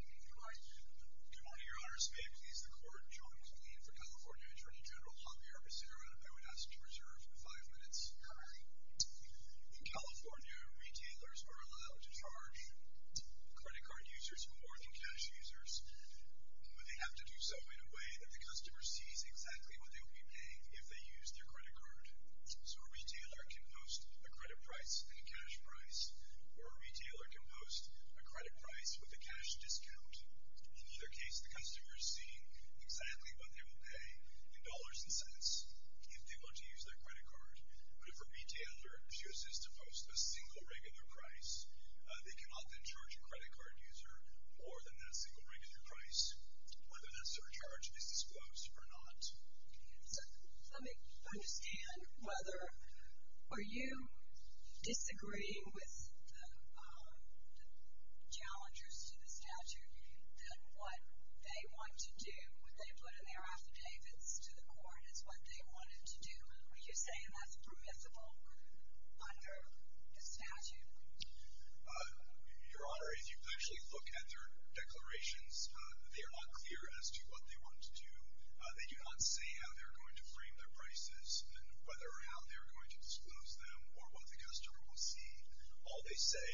Good morning, your honors. May it please the court, John McLean for California Attorney General Javier Becerra, and I would ask you to reserve five minutes. In California, retailers are allowed to charge credit card users more than cash users, but they have to do so in a way that the customer sees exactly what they will be paying if they use their credit card. So a retailer can post a credit price and a cash price, or a retailer can post a credit price with a cash discount. In either case, the customer is seeing exactly what they will pay in dollars and cents if they were to use their credit card. But if a retailer chooses to post a single regular price, they can often charge a credit card user more than that single regular price, whether that surcharge is disclosed or not. So let me understand whether, are you disagreeing with the challengers to the statute that what they want to do, what they put in their affidavits to the court is what they wanted to do? Are you saying that's permissible under the statute? Your Honor, if you actually look at their declarations, they are not clear as to what they want to do. They do not say how they're going to frame their prices and whether or how they're going to disclose them or what the customer will see. All they say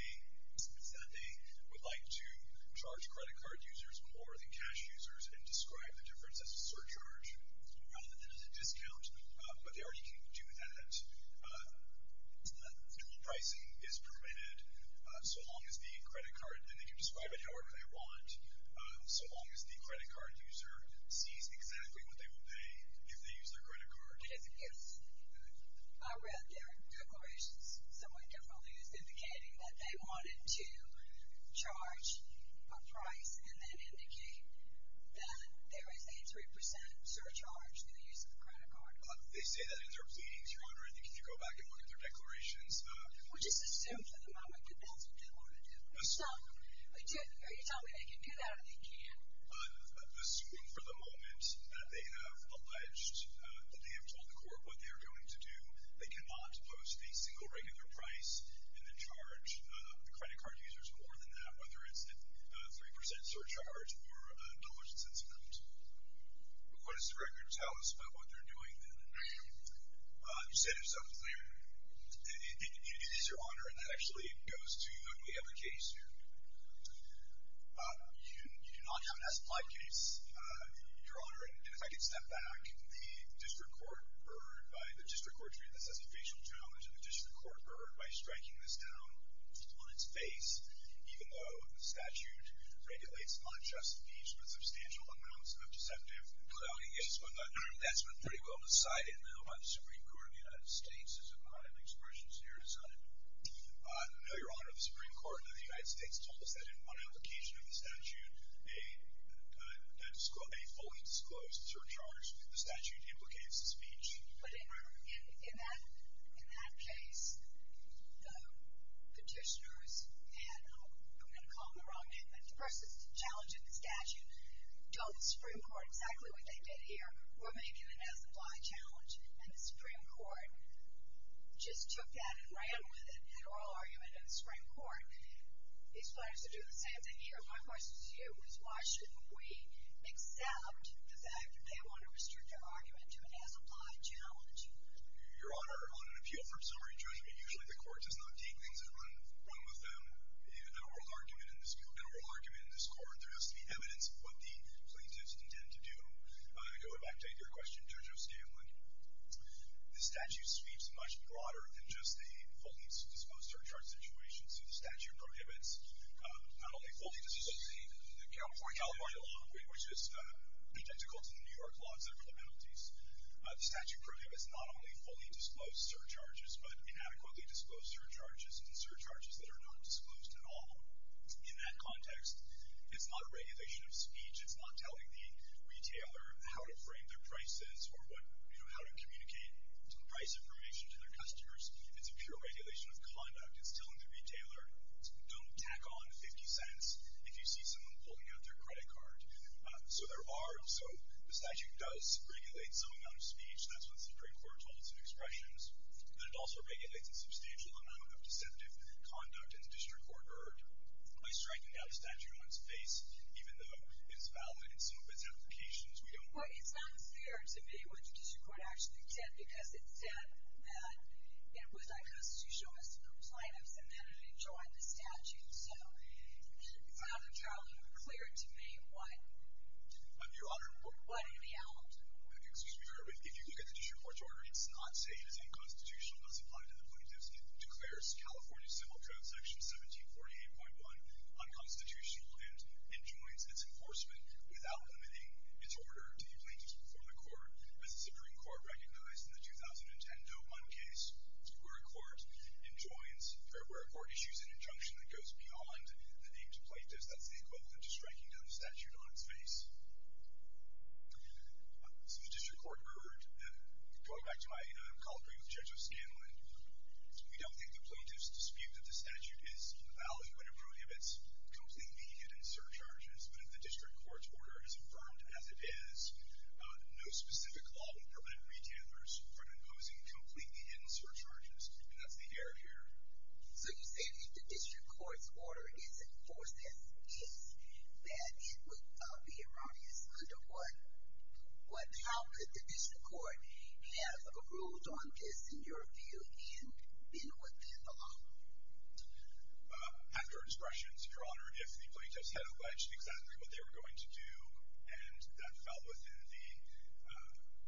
is that they would like to charge credit card users more than cash users and describe the difference as a surcharge rather than as a discount, but they already can do that. Single pricing is permitted so long as the credit card, and they can describe it however they want, so long as the credit card user sees exactly what they will pay if they use their credit card. Yes, I read their declarations somewhat differently as indicating that they wanted to charge a price and then indicating that there is a 3% surcharge through the use of the credit card. They say that in their pleadings, Your Honor, and you can go back and look at their declarations. Well, just assume for the moment that they want to do it. Stop. Are you telling me they can do that or they can't? Assuming for the moment that they have alleged that they have told the court what they are going to do, they cannot post a single regular price and then charge the credit card users more than that, whether it's a 3% surcharge or a dollar's discount. What does the record tell us about what they are doing then? You said yourself there that it is Your Honor, and that actually goes to the other case here. You do not have an as-plied case, Your Honor, and if I could step back, the district court ordered by the district court to read this as a facial challenge, and the district court ordered by striking this down on its face, even though the statute regulates unjust impeachment, substantial amounts of deceptive clout against one another. That's been pretty well decided, though, by the Supreme Court of the United States. There's a lot of expressions here. I know, Your Honor, the Supreme Court of the United States told us that in one application of the statute, a fully disclosed surcharge through the statute implicates a speech. But in that case, the petitioners had, I'm going to call them the wrong name, but the person challenging the statute told the Supreme Court exactly what they did here. We're making an as-applied challenge, and the Supreme Court just took that and ran with it, that oral argument in the Supreme Court. These players are doing the same thing here. My question to you is why shouldn't we accept the fact that they want to restrict their argument to an as-applied challenge? Your Honor, on an appeal for summary judgment, usually the court does not take things and run with them. No oral argument in this court. There has to be evidence of what the plaintiffs intend to do. Going back to your question, Judge O'Stanley, the statute speaks much broader than just a fully disclosed surcharge situation. So the statute prohibits not only fully disclosing the California law, which is identical to the New York laws that are the penalties. The statute prohibits not only fully disclosed surcharges, but inadequately disclosed surcharges and surcharges that are not disclosed at all. In that context, it's not a regulation of speech. It's not telling the retailer how to frame their prices or how to communicate price information to their customers. It's a pure regulation of conduct. It's telling the retailer, don't tack on 50 cents if you see someone pulling out their credit card. So there are also – the statute does regulate some amount of speech. That's what the Supreme Court holds in expressions. But it also regulates a substantial amount of deceptive conduct in the district court order by striking out a statute on its face, even though it's valid in some of its implications. We don't – Well, it sounds fair to me. The district court actually did, because it said that it would like us to show us the compliance and then to join the statute. So, Father Charlie, will you clear it to me? What? Your Honor. What in the hell? Excuse me, Your Honor. If you look at the district court's order, it does not say it is unconstitutional. It does apply to the plaintiffs. It declares California Civil Code Section 1748.1 unconstitutional and joins its enforcement without limiting its order to the plaintiffs before the court. As the Supreme Court recognized in the 2010 Doe-Munn case, where a court issues an injunction that goes beyond the name to plaintiffs, that's the equivalent to striking down the statute on its face. So the district court ordered – going back to my colloquy with Judge O'Scanlan, we don't think the plaintiffs dispute that the statute is valid when it prohibits completely hidden surcharges. But if the district court's order is affirmed as it is, no specific law would prevent retailers from imposing completely hidden surcharges, and that's the error here. So you say if the district court's order is enforced as is, that it would be erroneous under what – how could the district court have ruled on this, in your view, and been within the law? After expressions, Your Honor, if the plaintiffs had alleged exactly what they were going to do and that fell within the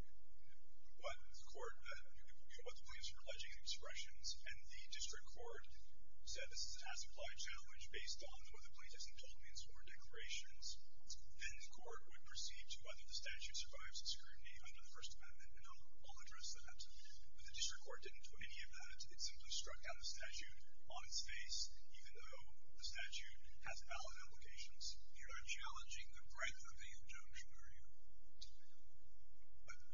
– what the court – what the plaintiffs were alleging in expressions, and the district court said this is a task-applied challenge based on what the plaintiffs had told me in sworn declarations, then the court would proceed to whether the statute survives the scrutiny under the First Amendment. And I'll address that. But the district court didn't do any of that. It simply struck down the statute on its face. Even though the statute has valid implications, you're not challenging the breadth of the injunction, are you?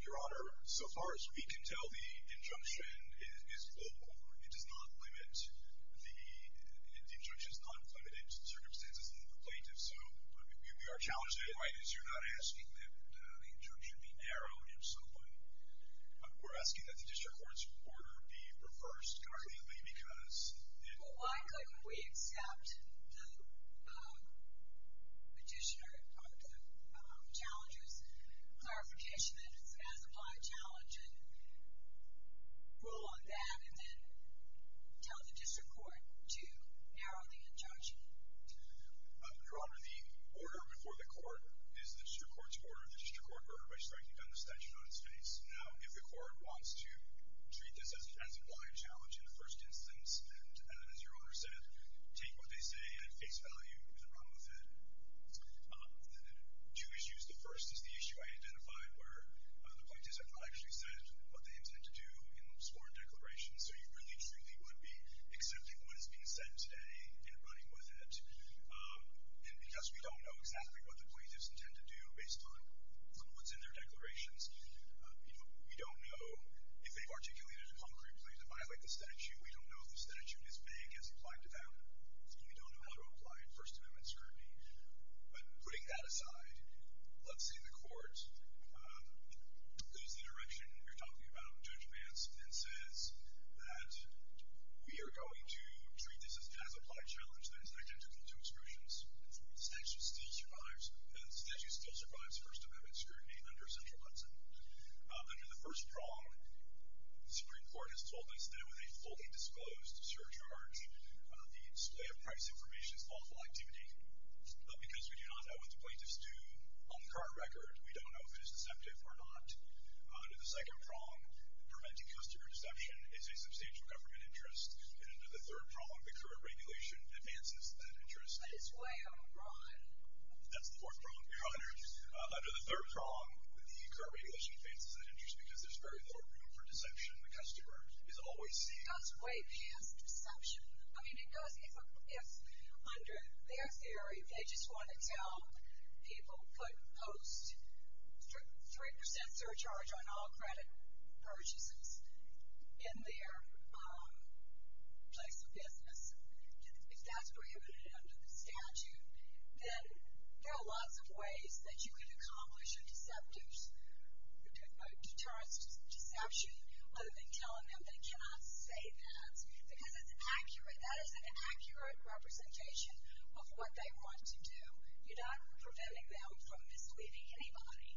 Your Honor, so far as we can tell, the injunction is global. It does not limit the – the injunction is not limited to the circumstances of the plaintiff. So we are challenging it. You're not asking that the injunction be narrowed in some way. We're asking that the district court's order be reversed, currently, because it – Well, why couldn't we accept the petitioner – or the challenger's clarification that it's an as-applied challenge and rule on that and then tell the district court to narrow the injunction? Your Honor, the order before the court is the district court's order, the district court's order by striking down the statute on its face. Now, if the court wants to treat this as an as-applied challenge in the first instance, as your Honor said, take what they say at face value and run with it. Two issues. The first is the issue I identified where the plaintiffs have not actually said what they intend to do in the sworn declaration. So you really, truly would be accepting what is being said today and running with it. And because we don't know exactly what the plaintiffs intend to do based on what's in their declarations, we don't know if they've articulated it concretely to violate the statute, we don't know if the statute is vague as applied to them, and we don't know how to apply it in First Amendment scrutiny. But putting that aside, let's say the court goes the direction we're talking about in judgments and says that we are going to treat this as an as-applied challenge that is identical to excursions. The statute still survives First Amendment scrutiny under central Hudson. Under the first prong, the Supreme Court has told us that with a fully disclosed surcharge, the display of price information is lawful activity. But because we do not know what the plaintiffs do on the current record, we don't know if it is deceptive or not. Under the second prong, preventing customer deception is a substantial government interest. And under the third prong, the current regulation advances that interest. But it's way out of line. That's the fourth prong. Under the third prong, the current regulation advances that interest because there's very little room for deception. The customer is always seeing. It does weigh past deception. I mean, it does if under their theory, they just want to tell people put post 3% surcharge on all credit purchases in there. Place of business. If that's prohibited under the statute, then there are lots of ways that you can accomplish a deterrence to deception other than telling them they cannot say that because that is an accurate representation of what they want to do. You're not preventing them from misleading anybody.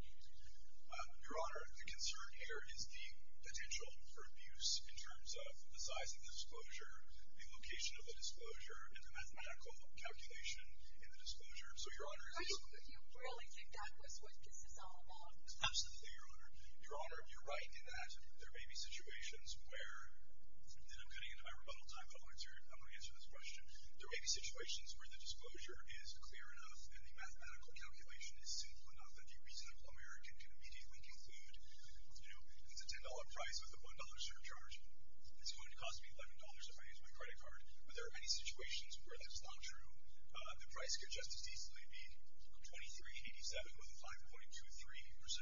Your Honor, the concern here is the potential for abuse in terms of the size of the disclosure, the location of the disclosure, and the mathematical calculation in the disclosure. So, Your Honor. You really think that was what this is all about? Absolutely, Your Honor. Your Honor, you're right in that there may be situations where, and I'm getting into my rebuttal time, but I want to answer this question. There may be situations where the disclosure is clear enough and the mathematical calculation is simple enough that the reasonable American can immediately conclude, you know, it's a $10 price with a $1 surcharge. It's going to cost me $11 if I use my credit card. But there are many situations where that's not true. The price could just as easily be $23.87 with a 5.23%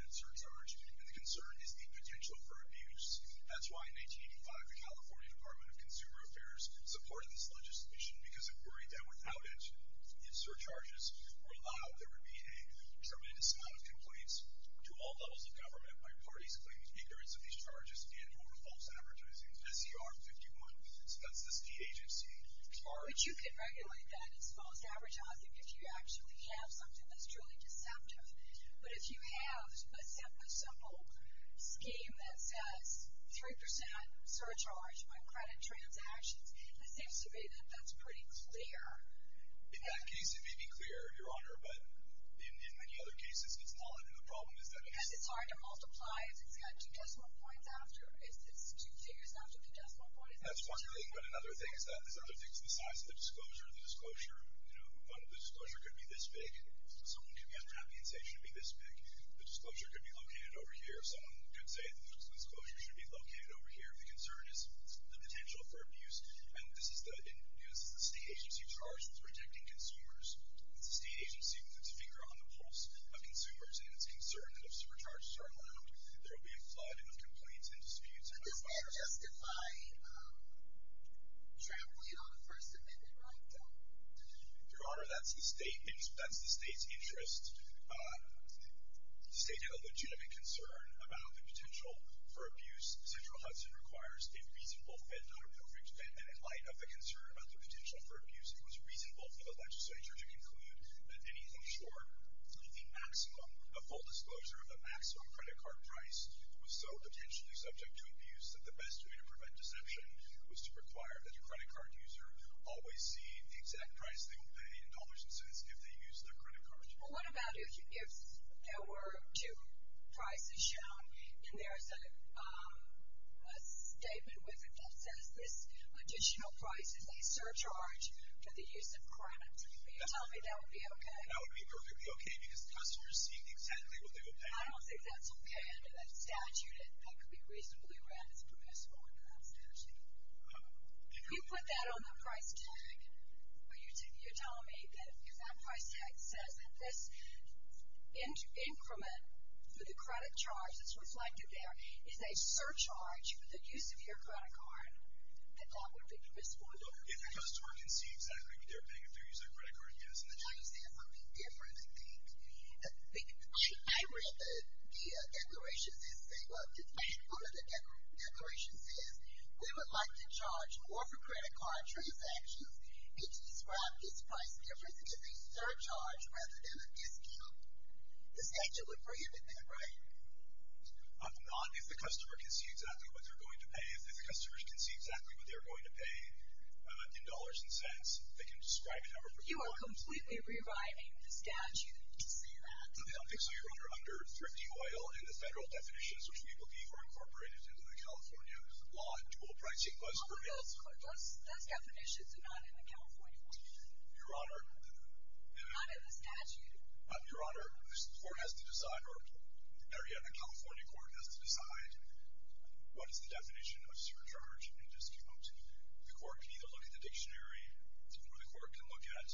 surcharge, and the concern is the potential for abuse. That's why in 1985, the California Department of Consumer Affairs supported this legislation because it worried that without it, if surcharges were allowed, there would be a tremendous amount of complaints to all levels of government by parties claiming ignorance of these charges, and who involves advertising. SCR 51, that's the agency. But you could regulate that as false advertising if you actually have something that's truly deceptive. But if you have a simple scheme that says 3% surcharge by credit transactions, it seems to me that that's pretty clear. In that case, it may be clear, Your Honor. But in many other cases, it's not. And the problem is that it's hard to multiply. It's got two decimal points after. It's two figures after the decimal point. That's one thing. But another thing is that there's other things besides the disclosure. The disclosure could be this big. Someone could be unhappy and say it should be this big. The disclosure could be located over here. Someone could say the disclosure should be located over here. The concern is the potential for abuse. And this is the state agency charged with rejecting consumers. The state agency puts its finger on the pulse of consumers, and it's concerned that if surcharges are allowed, there will be a flood of complaints and disputes. Your Honor, that's the state's interest stating a legitimate concern about the potential for abuse. Central Hudson requires a reasonable and appropriate statement in light of the concern about the potential for abuse. It was reasonable for the legislature to conclude that anything short of the maximum, a full disclosure of the maximum credit card price, was so potentially subject to abuse that the best way to prevent deception was to require that the credit card user always see the exact price they will pay in dollars and cents if they use their credit card. Well, what about if there were two prices shown, and there's a statement with it that says this additional price is a surcharge for the use of credit. Would you tell me that would be okay? That would be perfectly okay, because customers seeing exactly what they will pay. I don't think that's okay under that statute. That could be reasonably read as permissible under that statute. If you put that on the price tag, would you tell me that if that price tag says that this increment for the credit charge that's reflected there is a surcharge for the use of your credit card, that that would be miscalculated? If customers can see exactly what they're paying if they're using a credit card, yes. I understand. It would be different, I think. I read the declaration that says they would like to charge more for credit card transactions and to describe this price difference as a surcharge rather than a discount. The statute would prohibit that, right? Not if the customer can see exactly what they're going to pay. If the customers can see exactly what they're going to pay in dollars and cents, they can describe a number of requirements. You are completely rewriting the statute. I don't think so. You're under thrifty oil and the federal definitions, which we believe are incorporated into the California law and dual pricing. Those definitions are not in the California law. Your Honor. Not in the statute. Your Honor, the California court has to decide what is the definition of surcharge and discount. The court can either look at the dictionary or the court can look at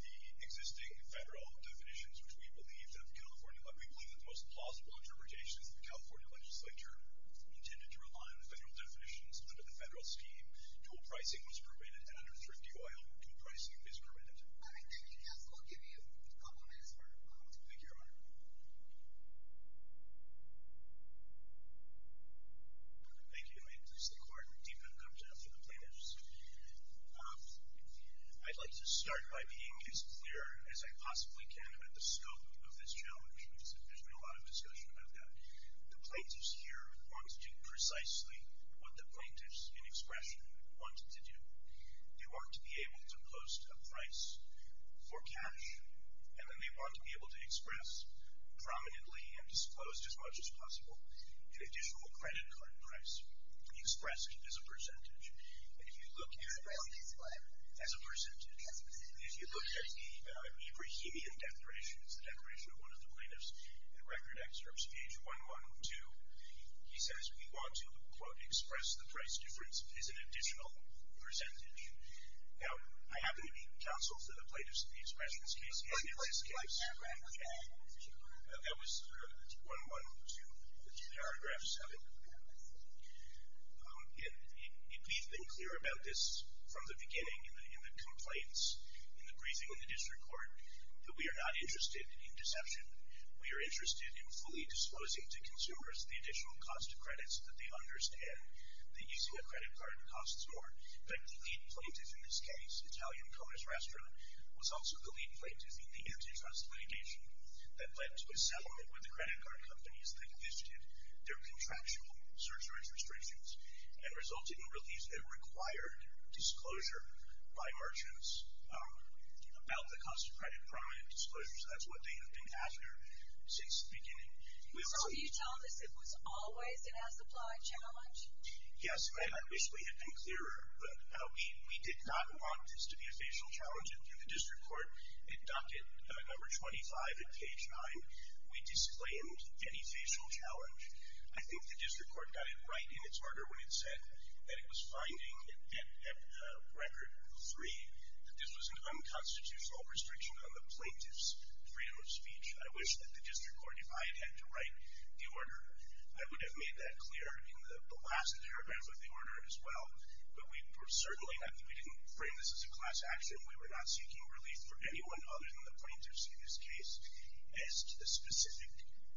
the existing federal definitions, which we believe the most plausible interpretations of the California legislature are intended to rely on federal definitions under the federal scheme. Dual pricing was permitted under thrifty oil. Dual pricing is permitted. Thank you, counsel. I'll give you a couple minutes more. Thank you, Your Honor. Thank you. May it please the Court. Defendant, come to the plaintiffs. I'd like to start by being as clear as I possibly can about the scope of this challenge. There's been a lot of discussion about that. The plaintiffs here want to do precisely what the plaintiffs in expression want to do. They want to be able to post a price for cash, and then they want to be able to express prominently and disclose as much as possible an additional credit card price expressed as a percentage. As a percentage? As a percentage. As a percentage. If you look at the Ebrahimian Declaration, it's a declaration of one of the plaintiffs. In record excerpts, page 112, he says, he wants to, quote, express the price difference as an additional percentage. Now, I happen to be counsel to the plaintiffs in the expressions case. What's the price difference? That was 112, the two paragraphs of it. It needs to be clear about this from the beginning in the complaints, in the briefing in the district court, that we are not interested in deception. We are interested in fully disposing to consumers the additional cost of credits that they understand the EZEA credit card costs more. But the lead plaintiff in this case, Italian Conus Rastro, was also the lead plaintiff in the antitrust litigation that led to a settlement with the credit card companies that envisioned their contractual insurance restrictions and resulted in relief that required disclosure by merchants about the cost of credit promise disclosures. That's what they have been after since the beginning. So are you telling us it was always an as-applied challenge? Yes, and I wish we had been clearer, but we did not want this to be a facial challenge. And through the district court, in docket number 25 at page 9, we disclaimed any facial challenge. I think the district court got it right in its order when it said that it was finding at record 3 that this was an unconstitutional restriction on the plaintiff's freedom of speech. I wish that the district court, if I had had to write the order, I would have made that clear in the last paragraph of the order as well. But we certainly didn't frame this as a class action. We were not seeking relief for anyone other than the plaintiffs in this case as to the specific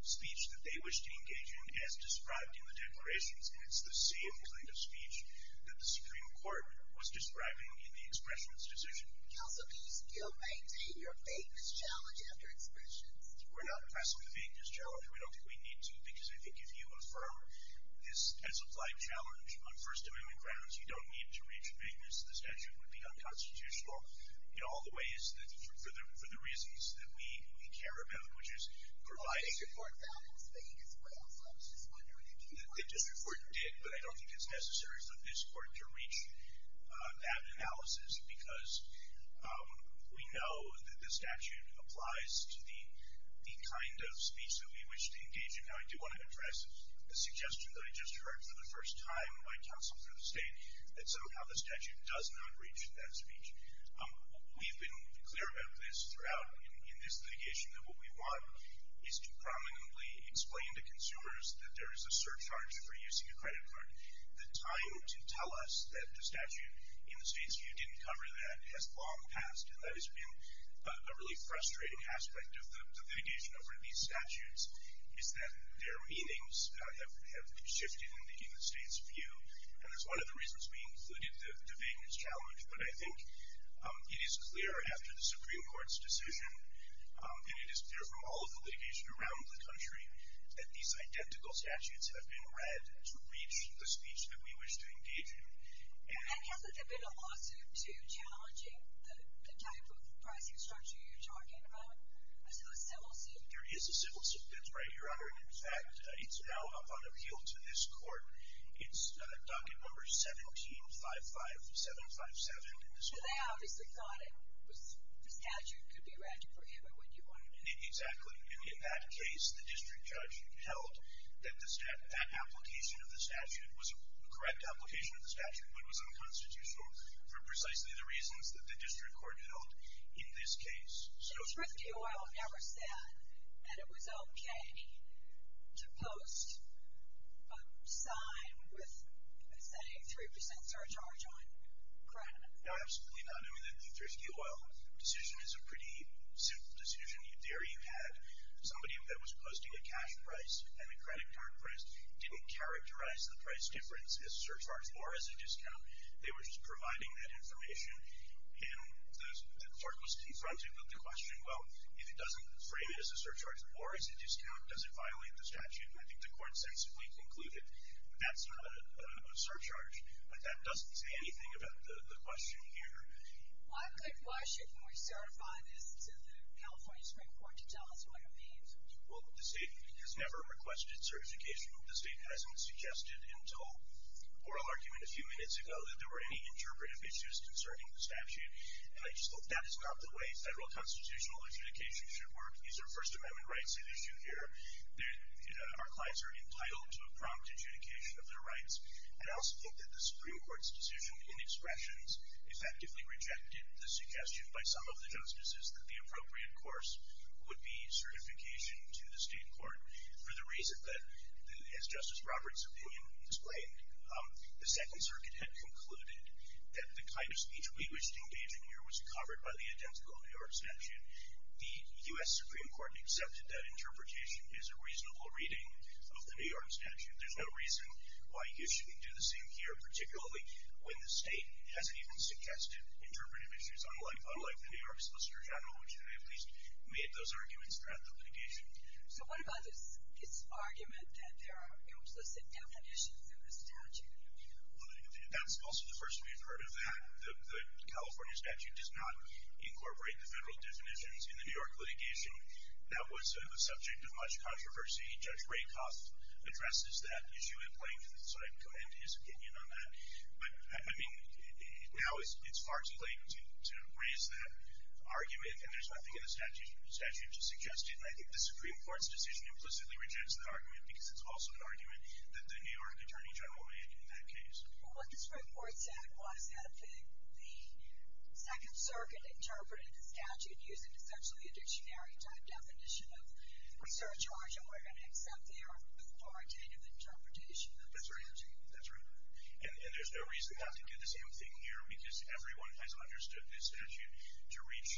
speech that they wished to engage in. It's not as described in the declarations. It's the same plaintiff's speech that the Supreme Court was describing in the expressionist decision. Counsel, do you still maintain your vagueness challenge after expressions? We're not pressing the vagueness challenge. We don't think we need to because I think if you affirm this as-applied challenge on First Amendment grounds, you don't need to reach vagueness. The statute would be unconstitutional in all the ways for the reasons that we care about, which is providing- The district court found this thing as well, so I was just wondering if you- The district court did, but I don't think it's necessary for this court to reach that analysis because we know that the statute applies to the kind of speech that we wish to engage in. Now, I do want to address the suggestion that I just heard for the first time by counsel for the state that somehow the statute does not reach that speech. We've been clear about this throughout in this litigation that what we want is to prominently explain to consumers that there is a surcharge for using a credit card. The time to tell us that the statute in the state's view didn't cover that has long passed, and that has been a really frustrating aspect of the litigation over these statutes is that their meanings have shifted in the state's view, and that's one of the reasons we included the vagueness challenge, but I think it is clear after the Supreme Court's decision, and it is clear from all of the litigation around the country, that these identical statutes have been read to reach the speech that we wish to engage in. And hasn't there been a lawsuit to challenge the type of pricing structure you're talking about? A civil suit? There is a civil suit, that's right, Your Honor. In fact, it's now up on appeal to this court. It's docket number 1755757. They obviously thought the statute could be read to prohibit what you wanted to do. Exactly. In that case, the district judge held that the application of the statute was a correct application of the statute, but it was unconstitutional for precisely the reasons that the district court held in this case. So Thrifty Oil never said that it was okay to post a sign with, say, 3% surcharge on credit. No, absolutely not. I mean, the Thrifty Oil decision is a pretty simple decision. There you had somebody that was posting a cash price and a credit card price. It didn't characterize the price difference as surcharge or as a discount. They were just providing that information. And the court was confronted with the question, well, if it doesn't frame it as a surcharge or as a discount, does it violate the statute? And I think the court sensibly concluded that's not a surcharge, but that doesn't say anything about the question here. Why shouldn't we certify this to the California Supreme Court to tell us what it means? Well, the State has never requested certification. The State hasn't suggested until oral argument a few minutes ago that there were any interpretive issues concerning the statute, and I just hope that is not the way federal constitutional adjudication should work. These are First Amendment rights at issue here. Our clients are entitled to a prompt adjudication of their rights. I also think that the Supreme Court's decision in expressions effectively rejected the suggestion by some of the justices that the appropriate course would be certification to the state court for the reason that, as Justice Roberts' opinion displayed, the Second Circuit had concluded that the kind of speech we wish to engage in here was covered by the identical New York statute. The U.S. Supreme Court accepted that interpretation is a reasonable reading of the New York statute. There's no reason why you shouldn't do the same here, particularly when the State hasn't even suggested interpretive issues, unlike the New York Solicitor General, which at least made those arguments draft the litigation. So what about this argument that there are no explicit definitions of the statute? Well, that's also the first we've heard of that. The California statute does not incorporate the federal definitions in the New York litigation. That was a subject of much controversy. Judge Rakoff addresses that issue in plaintiff's and his opinion on that. But, I mean, now it's far too late to raise that argument, and there's nothing in the statute to suggest it. And I think the Supreme Court's decision implicitly rejects the argument, because it's also an argument that the New York attorney general made in that case. Well, what this report said was that the Second Circuit interpreted the statute using essentially a dictionary-type definition of research origin, except they are for authoritative interpretation of the statute. That's right. That's right. And there's no reason not to do the same thing here, because everyone has understood this statute to reach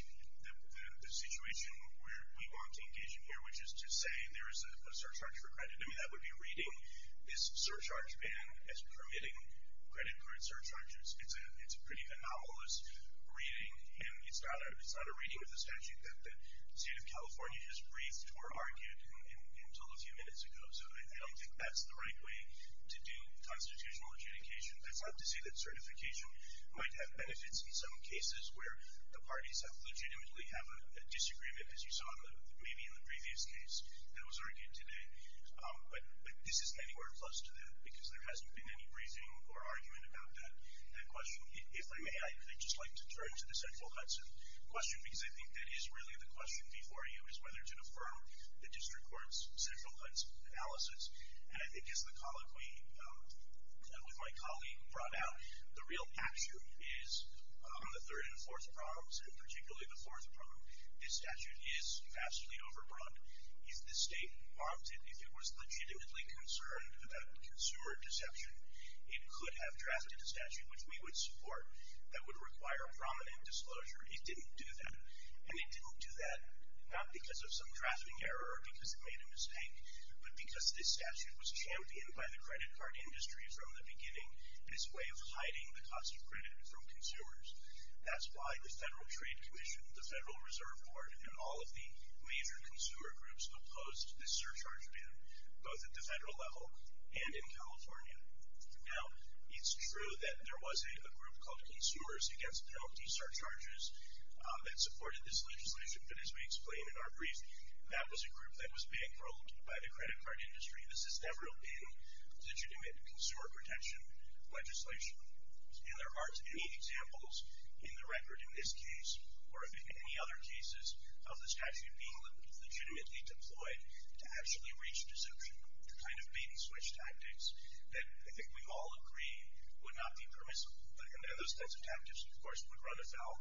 the situation where we want to engage in here, which is to say there is a surcharge for credit. I mean, that would be reading this surcharge ban as permitting credit for a surcharge. It's a pretty anomalous reading, and it's not a reading of the statute that the State of California just briefed or argued until a few minutes ago. So I don't think that's the right way to do constitutional adjudication. That's not to say that certification might have benefits in some cases where the parties have legitimately have a disagreement, as you saw maybe in the previous case that was argued today. But this isn't anywhere close to that, because there hasn't been any briefing or argument about that question. If I may, I would just like to turn to the Central Hudson question, because I think that is really the question before you, is whether to defer the district court's Central Hudson analysis. And I think, as the colleague with my colleague brought out, the real action is the third and fourth prongs, and particularly the fourth prong. This statute is vastly overrun. If the State wanted, if it was legitimately concerned about consumer deception, it could have drafted a statute, which we would support, that would require a prominent disclosure. It didn't do that. And it didn't do that not because of some drafting error or because it made a mistake, but because this statute was championed by the credit card industry from the beginning as a way of hiding the cost of credit from consumers. That's why the Federal Trade Commission, the Federal Reserve Board, and all of the major consumer groups opposed this surcharge ban, both at the federal level and in California. Now, it's true that there was a group called Consumers Against Penalty Surcharges that supported this legislation, but as we explained in our briefing, that was a group that was being ruled by the credit card industry. This has never been legitimate consumer protection legislation. And there aren't any examples in the record in this case, or in any other cases of the statute being legitimately deployed to actually reach deception. The kind of bait-and-switch tactics that I think we've all agreed would not be permissible. And those types of tactics, of course, would run afoul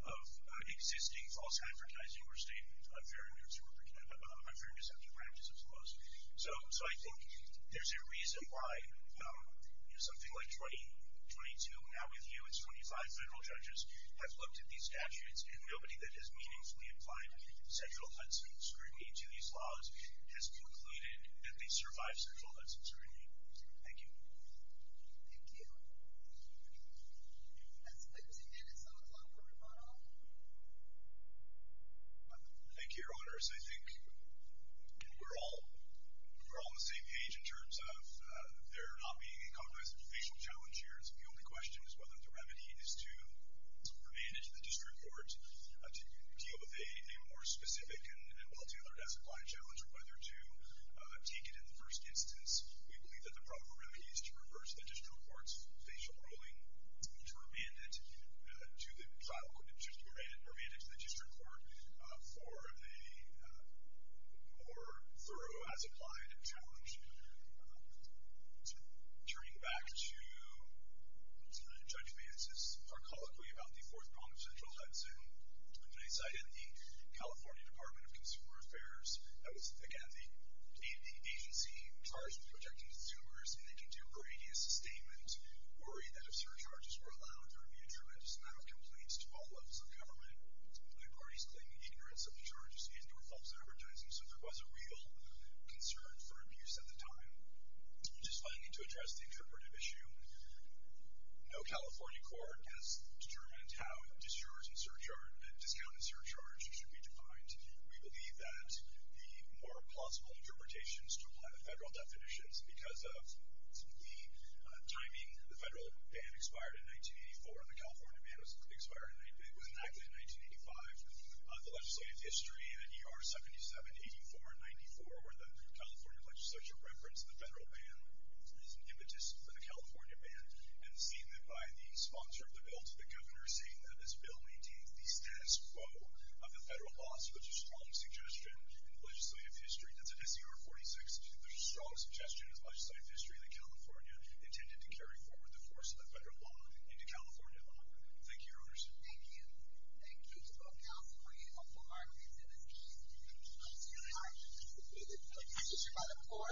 of existing false advertising or state unfair deception practices, I suppose. So I think there's a reason why something like 22, now with you, it's 25 federal judges, have looked at these statutes, and nobody that has meaningfully applied sexual huts and scrutiny to these laws has concluded that they survive sexual huts and scrutiny. Thank you. Thank you. That's 15 minutes on the clock for rebuttal. Thank you, Your Honors. I think we're all on the same page in terms of there not being a compromised facial challenge here. The only question is whether the remedy is to remand it to the district court to deal with a more specific and well-tailored as-applied challenge, or whether to take it in the first instance. We believe that the problem really is to reverse the district court's facial ruling, to remand it to the district court for a more thorough as-applied challenge. Turning back to the judge basis, archaically about the Fourth Prong of Central Hudson, when they cited the California Department of Consumer Affairs, that was, again, the agency charged with protecting consumers in a contemporary statement, worried that if surcharges were allowed, there would be a tremendous amount of complaints to all levels of government. The parties claimed ignorance of the charges and were false advertising, so there was a real concern for abuse at the time. Just wanting to address the interpretive issue, no California court has determined how a discounted surcharge should be defined. We believe that the more plausible interpretations to apply the federal definitions, because of the timing, the federal ban expired in 1984, and the California ban was enacted in 1985, the legislative history in ADR 77, 84, and 94, where the California legislature referenced the federal ban as an impetus for the California ban, and seeing that by the sponsor of the bill to the governor, we're seeing that this bill may take the status quo of the federal laws, so that's a strong suggestion in the legislative history. That's in SCR 46, there's a strong suggestion in the legislative history that California intended to carry forward the force of the federal law into California. Thank you, Your Honors. Thank you. Thank you. The counsel will be informed. Thank you. Thank you. Thank you.